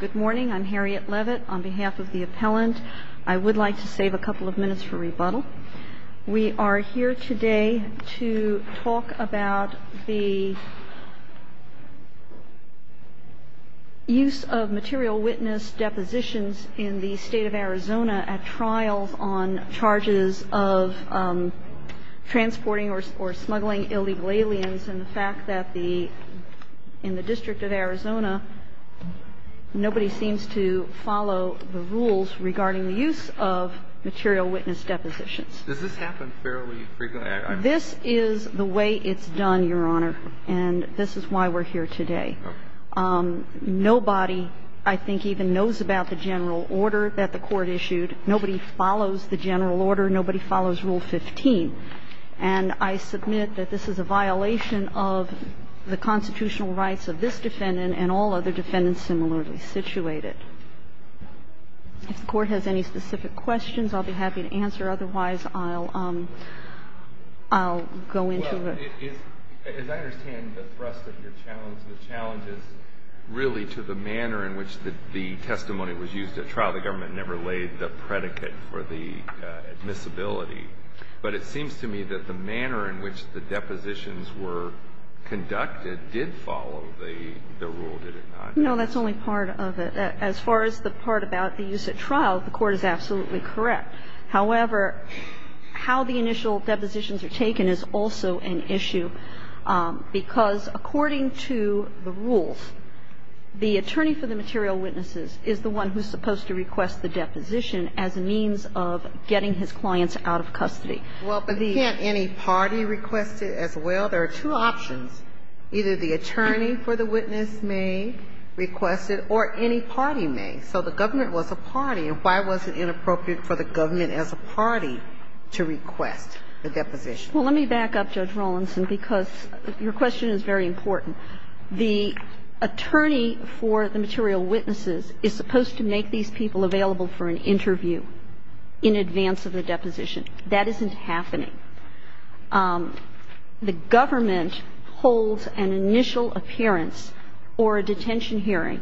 Good morning. I'm Harriet Levitt on behalf of the appellant. I would like to save a couple of minutes for rebuttal. We are here today to talk about the use of material witness depositions in the state of Arizona at trials on charges of transporting or smuggling illegal aliens and the fact that in the District of Arizona, nobody seems to follow the rules regarding the use of material witness depositions. Does this happen fairly frequently? This is the way it's done, Your Honor, and this is why we're here today. Nobody, I think, even knows about the general order that the Court issued. Nobody follows the general order. Nobody follows Rule 15. And I submit that this is a violation of the constitutional rights of this defendant and all other defendants similarly situated. If the Court has any specific questions, I'll be happy to answer. Otherwise, I'll go into the room. Well, as I understand the thrust of your challenge, the challenge is really to the manner in which the testimony was used at trial. The government never laid the predicate for the admissibility. But it seems to me that the manner in which the depositions were conducted did follow the rule, did it not? No, that's only part of it. As far as the part about the use at trial, the Court is absolutely correct. However, how the initial depositions are taken is also an issue, because according to the rules, the attorney for the material witnesses is the one who's supposed to request the deposition as a means of getting his clients out of custody. Well, but can't any party request it as well? There are two options. Either the attorney for the witness may request it, or any party may. So the government was a party. And why was it inappropriate for the government as a party to request the deposition? Well, let me back up, Judge Rawlinson, because your question is very important. The attorney for the material witnesses is supposed to make these people available for an interview in advance of the deposition. That isn't happening. The government holds an initial appearance or a detention hearing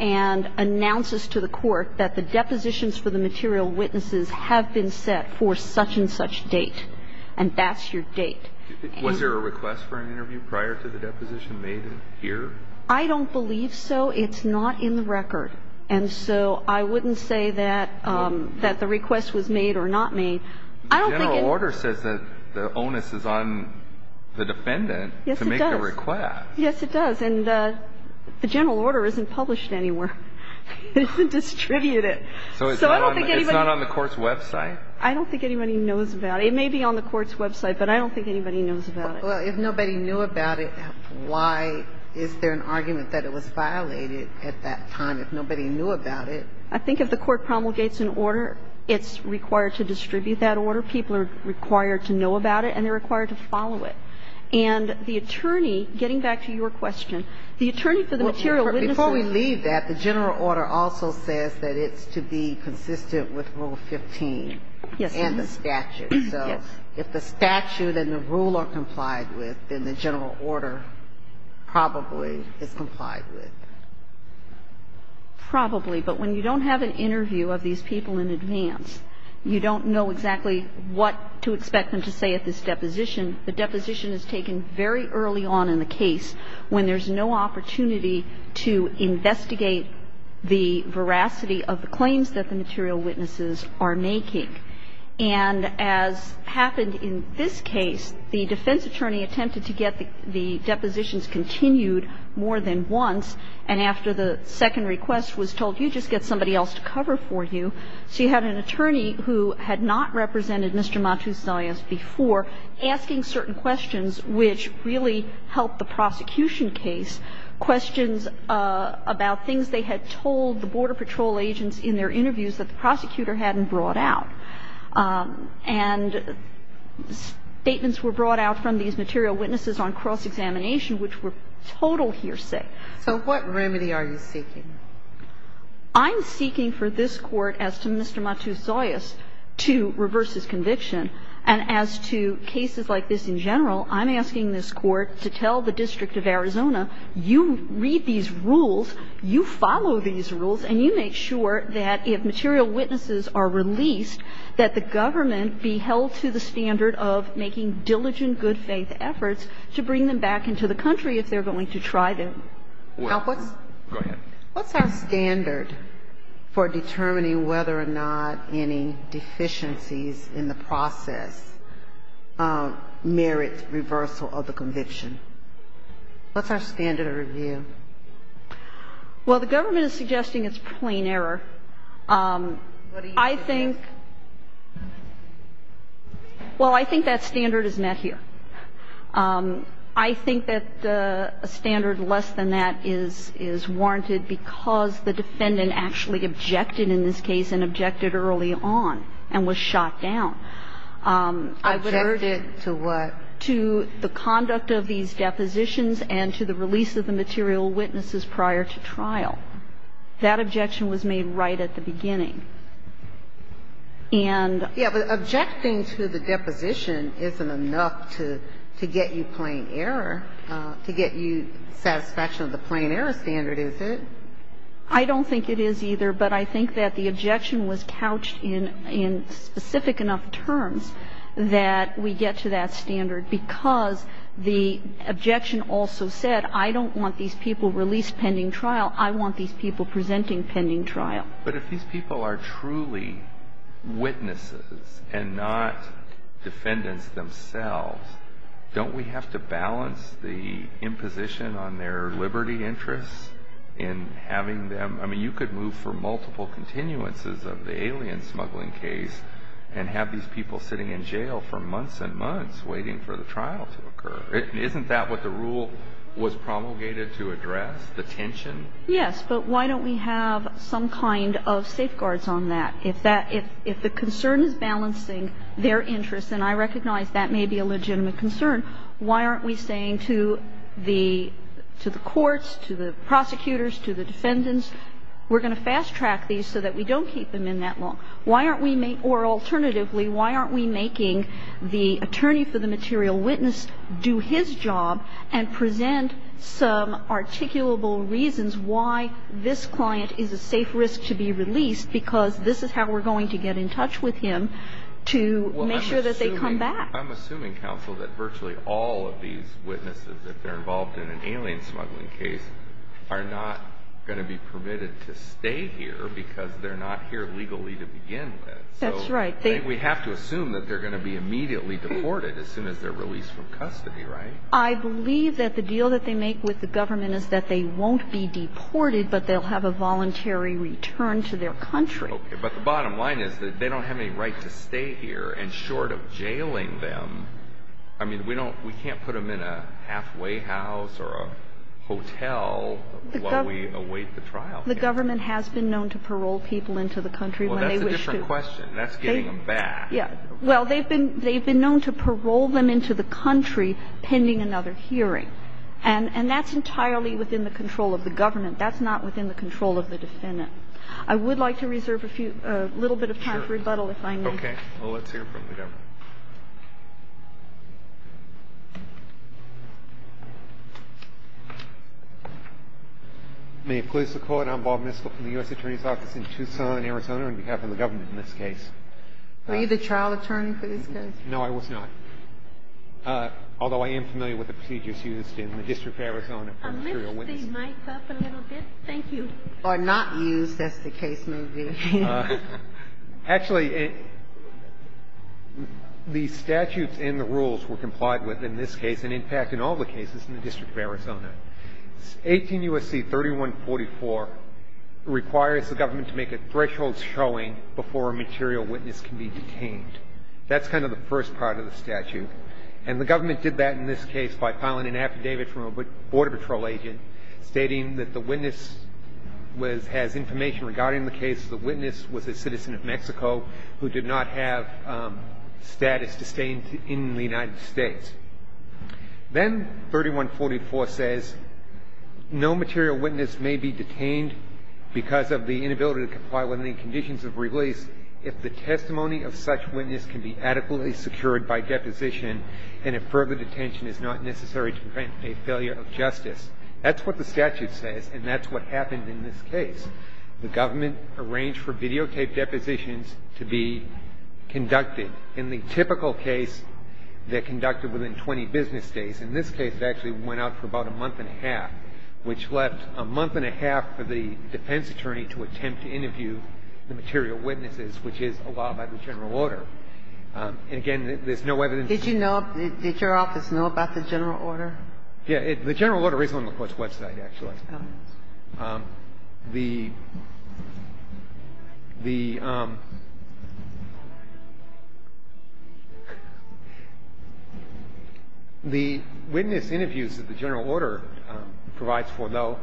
and announces to the Court that the depositions for the material witnesses have been set for such and such date. And that's your date. Was there a request for an interview prior to the deposition made here? I don't believe so. It's not in the record. And so I wouldn't say that the request was made or not made. I don't think it was. The general order says that the onus is on the defendant to make the request. Yes, it does. And the general order isn't published anywhere. It isn't distributed. So it's not on the Court's website? I don't think anybody knows about it. It may be on the Court's website, but I don't think anybody knows about it. Well, if nobody knew about it, why is there an argument that it was violated at that time if nobody knew about it? I think if the Court promulgates an order, it's required to distribute that order. People are required to know about it and they're required to follow it. And the attorney, getting back to your question, the attorney for the material witnesses – Before we leave that, the general order also says that it's to be consistent with Rule 15. Yes. And the statute. Yes. So if the statute and the rule are complied with, then the general order probably is complied with. Probably. But when you don't have an interview of these people in advance, you don't know exactly what to expect them to say at this deposition. The deposition is taken very early on in the case when there's no opportunity to investigate the veracity of the claims that the material witnesses are making. And as happened in this case, the defense attorney attempted to get the depositions continued more than once, and after the second request was told, you just get somebody else to cover for you. So you had an attorney who had not represented Mr. Matuselis before asking certain questions which really helped the prosecution case, questions about things they had told the Border Patrol agents in their interviews that the prosecutor hadn't brought out. And statements were brought out from these material witnesses on cross-examination which were total hearsay. So what remedy are you seeking? I'm seeking for this Court, as to Mr. Matuselis, to reverse his conviction. And as to cases like this in general, I'm asking this Court to tell the District of Arizona, you read these rules, you follow these rules, and you make sure that if material witnesses are released, that the government be held to the standard of making diligent, good-faith efforts to bring them back into the country if they're going to try them. Now, what's our standard for determining whether or not any deficiencies in the process merit reversal of the conviction? What's our standard of review? Well, the government is suggesting it's plain error. I think that standard is met here. I think that a standard less than that is warranted because the defendant actually objected in this case and objected early on and was shot down. Objected to what? To the conduct of these depositions and to the release of the material witnesses prior to trial. That objection was made right at the beginning. Yeah, but objecting to the deposition isn't enough to get you plain error, to get you satisfaction of the plain error standard, is it? I don't think it is either, but I think that the objection was couched in specific enough terms that we get to that standard because the objection also said I don't want these people released pending trial. I want these people presenting pending trial. But if these people are truly witnesses and not defendants themselves, don't we have to balance the imposition on their liberty interests in having them? I mean, you could move for multiple continuances of the alien smuggling case and have these people sitting in jail for months and months waiting for the trial to occur. Isn't that what the rule was promulgated to address, the tension? Yes, but why don't we have some kind of safeguards on that? If that – if the concern is balancing their interests, and I recognize that may be a legitimate concern, why aren't we saying to the courts, to the prosecutors, to the defendants, we're going to fast-track these so that we don't keep them in that long? Why aren't we – or alternatively, why aren't we making the attorney for the material witness do his job and present some articulable reasons why this client is a safe risk to be released because this is how we're going to get in touch with him to make sure that they come back? I'm assuming, counsel, that virtually all of these witnesses, if they're involved in an alien smuggling case, are not going to be permitted to stay here because they're not here legally to begin with. That's right. We have to assume that they're going to be immediately deported as soon as they're released from custody, right? I believe that the deal that they make with the government is that they won't be deported, but they'll have a voluntary return to their country. Okay. But the bottom line is that they don't have any right to stay here. And short of jailing them, I mean, we don't – we can't put them in a halfway house or a hotel while we await the trial. The government has been known to parole people into the country when they wish to. That's the question. That's getting them back. Yeah. Well, they've been – they've been known to parole them into the country pending another hearing. And that's entirely within the control of the government. That's not within the control of the defendant. I would like to reserve a few – a little bit of time for rebuttal if I may. Sure. Well, let's hear from the government. May it please the Court. Good afternoon. I'm Bob Miskell from the U.S. Attorney's Office in Tucson, Arizona, on behalf of the government in this case. Were you the trial attorney for this case? No, I was not, although I am familiar with the procedures used in the District of Arizona for material witnesses. I'll lift the mic up a little bit. Thank you. Or not used, as the case may be. Actually, the statutes and the rules were complied with in this case and in fact in all the cases in the District of Arizona. 18 U.S.C. 3144 requires the government to make a threshold showing before a material witness can be detained. That's kind of the first part of the statute. And the government did that in this case by filing an affidavit from a Border Patrol agent stating that the witness has information regarding the case. The witness was a citizen of Mexico who did not have status to stay in the United States. Then 3144 says no material witness may be detained because of the inability to comply with any conditions of release if the testimony of such witness can be adequately secured by deposition and if further detention is not necessary to prevent a failure of justice. That's what the statute says and that's what happened in this case. The government arranged for videotaped depositions to be conducted. In the typical case, they conducted within 20 business days. In this case, it actually went out for about a month and a half, which left a month and a half for the defense attorney to attempt to interview the material witnesses, which is allowed by the general order. And again, there's no evidence. Did you know, did your office know about the general order? Yeah. The general order is on the Court's website, actually. The witness interviews that the general order provides for, though,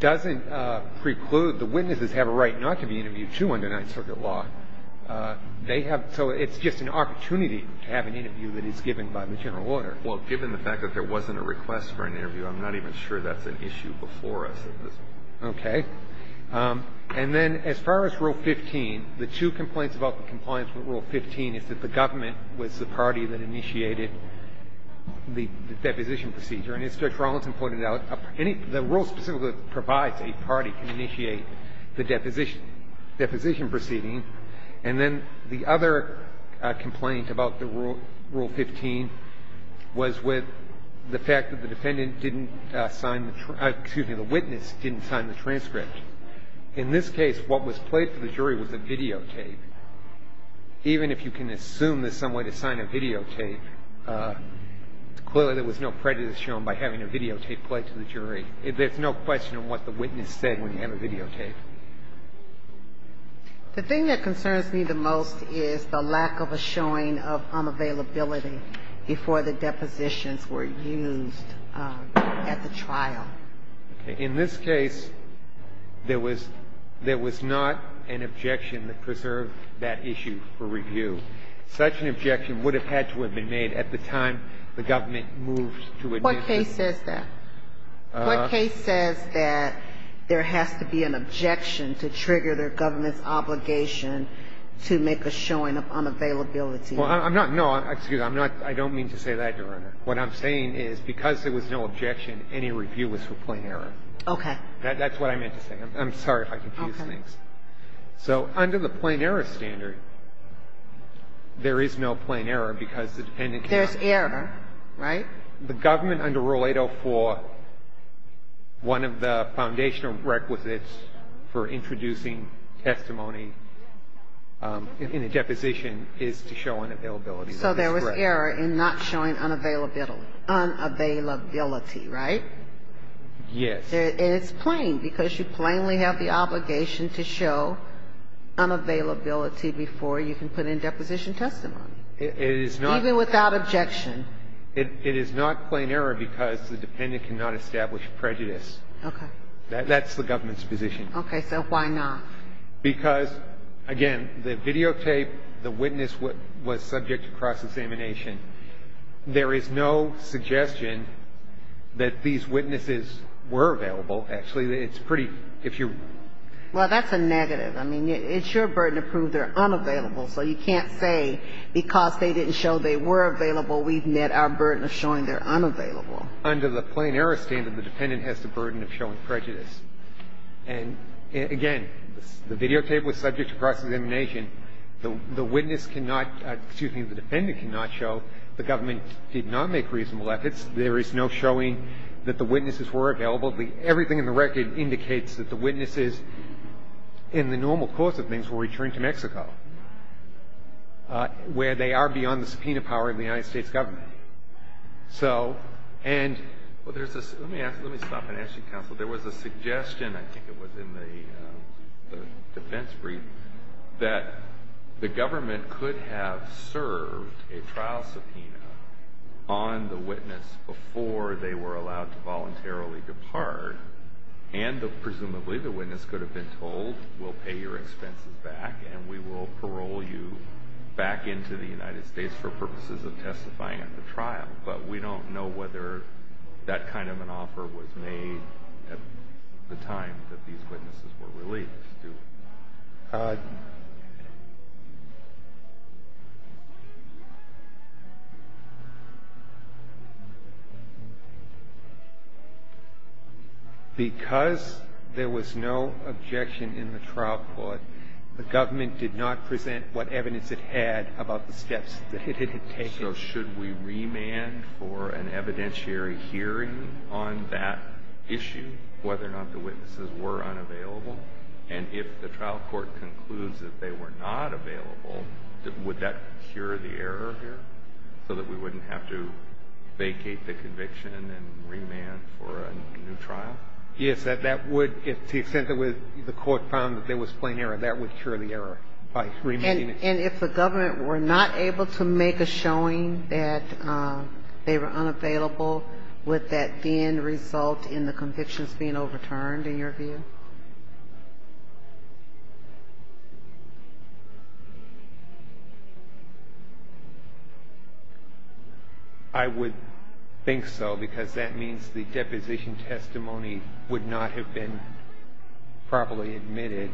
doesn't preclude the witnesses have a right not to be interviewed, too, under Ninth Circuit law. They have so it's just an opportunity to have an interview that is given by the general order. Well, given the fact that there wasn't a request for an interview, I'm not even sure that's an issue. I'm not even sure that's an issue before us. Okay. And then as far as Rule 15, the two complaints about the compliance with Rule 15 is that the government was the party that initiated the deposition procedure. And as Judge Rollins pointed out, the rule specifically provides a party can initiate the deposition proceeding. And then the other complaint about the Rule 15 was with the fact that the defendant didn't sign the, excuse me, the witness didn't sign the transcript. In this case, what was played for the jury was a videotape. Even if you can assume there's some way to sign a videotape, clearly there was no prejudice shown by having a videotape played to the jury. There's no question on what the witness said when you have a videotape. The thing that concerns me the most is the lack of a showing of unavailability before the depositions were used at the trial. Okay. In this case, there was not an objection that preserved that issue for review. Such an objection would have had to have been made at the time the government moved to admission. What case says that? What case says that there has to be an objection to trigger the government's obligation to make a showing of unavailability? Well, I'm not, no, excuse me. I'm not, I don't mean to say that, Your Honor. What I'm saying is because there was no objection, any review was for plain error. Okay. That's what I meant to say. I'm sorry if I confused things. Okay. So under the plain error standard, there is no plain error because the defendant can't. There's error, right? The government under Rule 804, one of the foundational requisites for introducing testimony in a deposition is to show unavailability. So there was error in not showing unavailability, right? Yes. And it's plain because you plainly have the obligation to show unavailability before you can put in deposition testimony. It is not. Even without objection. It is not plain error because the defendant cannot establish prejudice. Okay. That's the government's position. Okay. So why not? Because, again, the videotape, the witness was subject to cross-examination. There is no suggestion that these witnesses were available. Actually, it's pretty, if you're ---- Well, that's a negative. I mean, it's your burden to prove they're unavailable. So you can't say because they didn't show they were available, we've met our burden of showing they're unavailable. Under the plain error standard, the defendant has the burden of showing prejudice. And, again, the videotape was subject to cross-examination. The witness cannot, excuse me, the defendant cannot show the government did not make reasonable efforts. There is no showing that the witnesses were available. Everything in the record indicates that the witnesses, in the normal course of things, were returned to Mexico, where they are beyond the subpoena power of the United States government. So, and ---- Well, there's a ---- Let me ask you. Let me stop and ask you, counsel. There was a suggestion, I think it was in the defense brief, that the government could have served a trial subpoena on the witness before they were allowed to voluntarily depart. And, presumably, the witness could have been told, we'll pay your expenses back and we will parole you back into the United States for purposes of testifying at the trial. But we don't know whether that kind of an offer was made at the time that these witnesses were released, do we? Because there was no objection in the trial court, the government did not present what evidence it had about the steps that it had taken. So should we remand for an evidentiary hearing on that issue, whether or not the witnesses were unavailable? And if the trial court concludes that they were not available, would that cure the error here, so that we wouldn't have to vacate the conviction and remand for a new trial? Yes. That would, if the court found that there was plain error, that would cure the error by remanding. And if the government were not able to make a showing that they were unavailable, would that then result in the convictions being overturned, in your view? I would think so, because that means the deposition testimony would not have been properly admitted.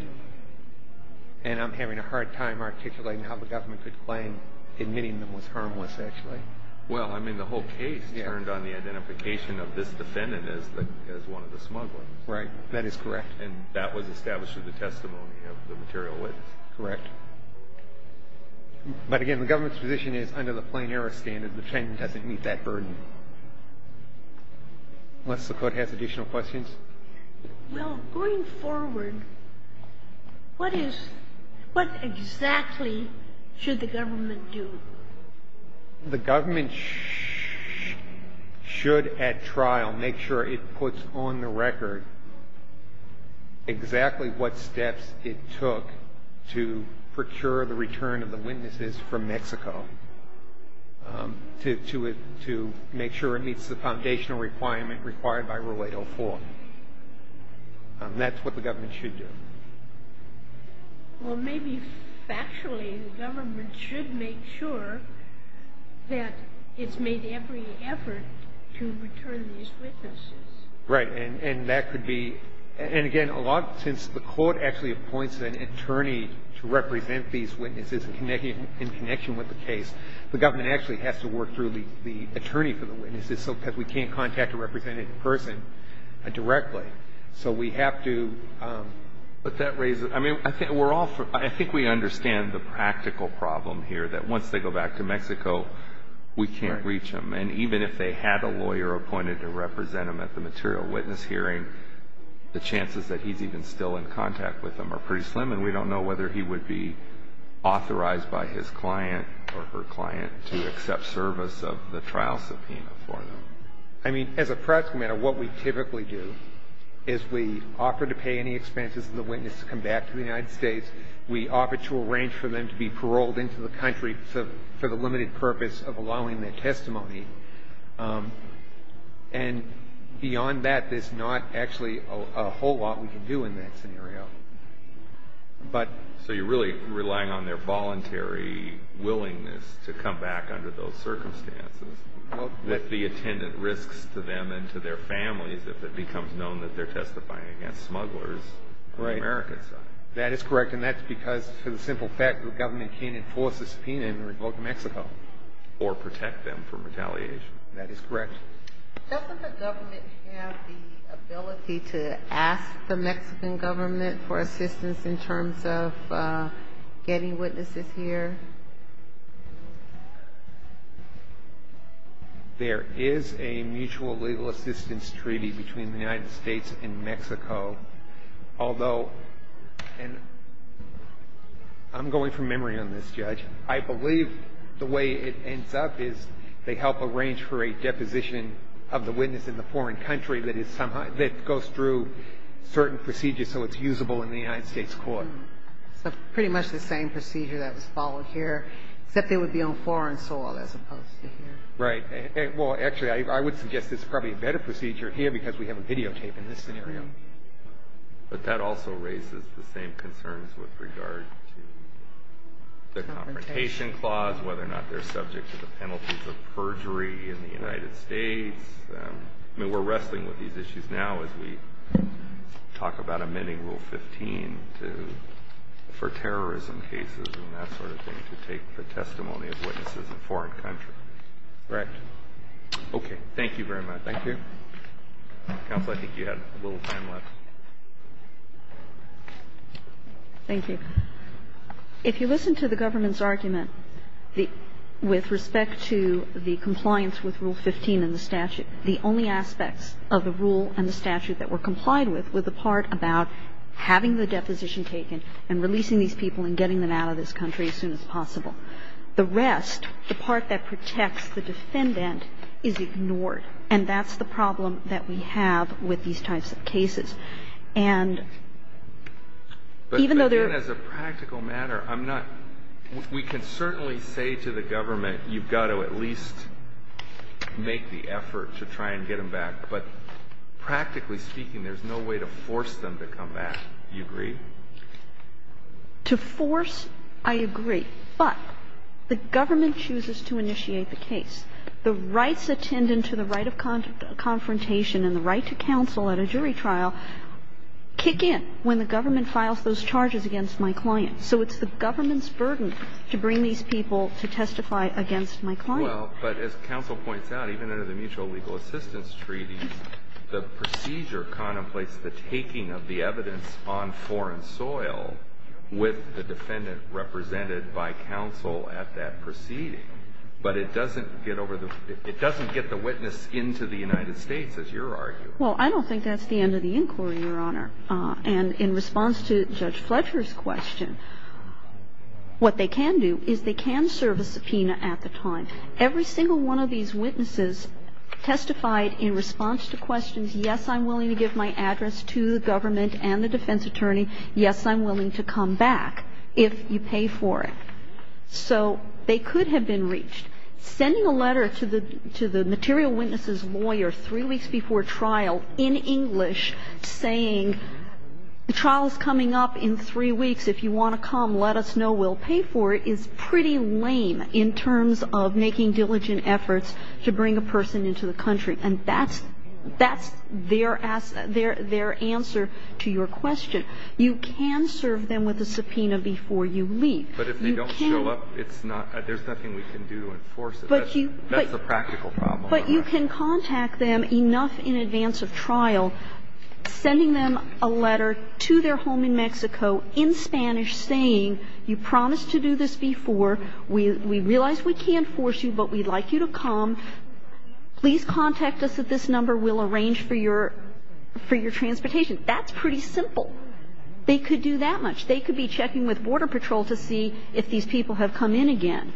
And I'm having a hard time articulating how the government could claim admitting them was harmless, actually. Well, I mean, the whole case turned on the identification of this defendant as one of the smugglers. Right. That is correct. And that was established through the testimony of the material witness. Correct. But again, the government's position is, under the plain error standard, the defendant doesn't meet that burden. Unless the court has additional questions. Well, going forward, what exactly should the government do? The government should, at trial, make sure it puts on the record exactly what steps it took to procure the return of the witnesses from Mexico to make sure it meets the standard. And that's what the government should do. Well, maybe factually the government should make sure that it's made every effort to return these witnesses. Right. And that could be, and again, a lot, since the court actually appoints an attorney to represent these witnesses in connection with the case, the government actually has to work through the attorney for the witnesses. Because we can't contact a represented person directly. So we have to. But that raises, I mean, I think we're all, I think we understand the practical problem here, that once they go back to Mexico, we can't reach them. And even if they had a lawyer appointed to represent them at the material witness hearing, the chances that he's even still in contact with them are pretty slim. And we don't know whether he would be authorized by his client or her client to accept service of the trial subpoena for them. I mean, as a practical matter, what we typically do is we offer to pay any expenses of the witness to come back to the United States. We offer to arrange for them to be paroled into the country for the limited purpose of allowing their testimony. And beyond that, there's not actually a whole lot we can do in that scenario. But so you're really relying on their voluntary willingness to come back under those circumstances with the attendant risks to them and to their families if it becomes known that they're testifying against smugglers on the American side. That is correct. And that's because, for the simple fact, the government can't enforce a subpoena in the Republic of Mexico. Or protect them from retaliation. That is correct. Doesn't the government have the ability to ask the Mexican government for assistance? There is a mutual legal assistance treaty between the United States and Mexico. Although, and I'm going from memory on this, Judge. I believe the way it ends up is they help arrange for a deposition of the witness in the foreign country that is somehow that goes through certain procedures so it's usable in the United States court. So pretty much the same procedure that was followed here, except they would be on foreign soil as opposed to here. Right. Well, actually, I would suggest this is probably a better procedure here because we have a videotape in this scenario. But that also raises the same concerns with regard to the confrontation clause, whether or not they're subject to the penalties of perjury in the United States. I mean, we're wrestling with these issues now as we talk about amending Rule 15 for terrorism cases and that sort of thing to take the testimony of witnesses in a foreign country. Right. Okay. Thank you very much. Thank you. Counsel, I think you had a little time left. Thank you. If you listen to the government's argument with respect to the compliance with Rule 15 and the statute, the only aspects of the rule and the statute that were The defendant is not subject to the penalties of perjury. And that's the problem with these people and getting them out of this country as soon as possible. The rest, the part that protects the defendant, is ignored. And that's the problem that we have with these types of cases. And even though there are But, again, as a practical matter, I'm not we can certainly say to the government, you've got to at least make the effort to try and get them back. But practically speaking, there's no way to force them to come back. Do you agree? To force, I agree. But the government chooses to initiate the case. The rights attendant to the right of confrontation and the right to counsel at a jury trial kick in when the government files those charges against my client. So it's the government's burden to bring these people to testify against my client. Well, but as counsel points out, even under the Mutual Legal Assistance Treaty, the procedure contemplates the taking of the evidence on foreign soil with the defendant represented by counsel at that proceeding. But it doesn't get over the It doesn't get the witness into the United States, as you're arguing. Well, I don't think that's the end of the inquiry, Your Honor. And in response to Judge Fletcher's question, what they can do is they can serve a subpoena at the time. Every single one of these witnesses testified in response to questions, yes, I'm willing to give my address to the government and the defense attorney. Yes, I'm willing to come back if you pay for it. So they could have been reached. Sending a letter to the material witness's lawyer three weeks before trial in English saying the trial is coming up in three weeks. If you want to come, let us know. We'll pay for it is pretty lame in terms of making diligent efforts to bring a person into the country. And that's their answer to your question. You can serve them with a subpoena before you leave. You can. But if they don't show up, there's nothing we can do to enforce it. That's a practical problem. But you can contact them enough in advance of trial sending them a letter to their home in Mexico in Spanish saying you promised to do this before. We realize we can't force you, but we'd like you to come. Please contact us at this number. We'll arrange for your transportation. That's pretty simple. They could do that much. They could be checking with Border Patrol to see if these people have come in again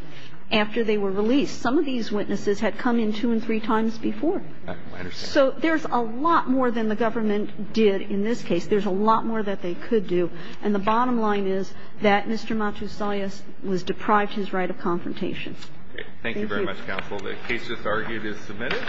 after they were released. Some of these witnesses had come in two and three times before. So there's a lot more than the government did in this case. There's a lot more that they could do. And the bottom line is that Mr. Matusayas was deprived his right of confrontation. Thank you. Thank you very much, counsel. The case just argued is submitted.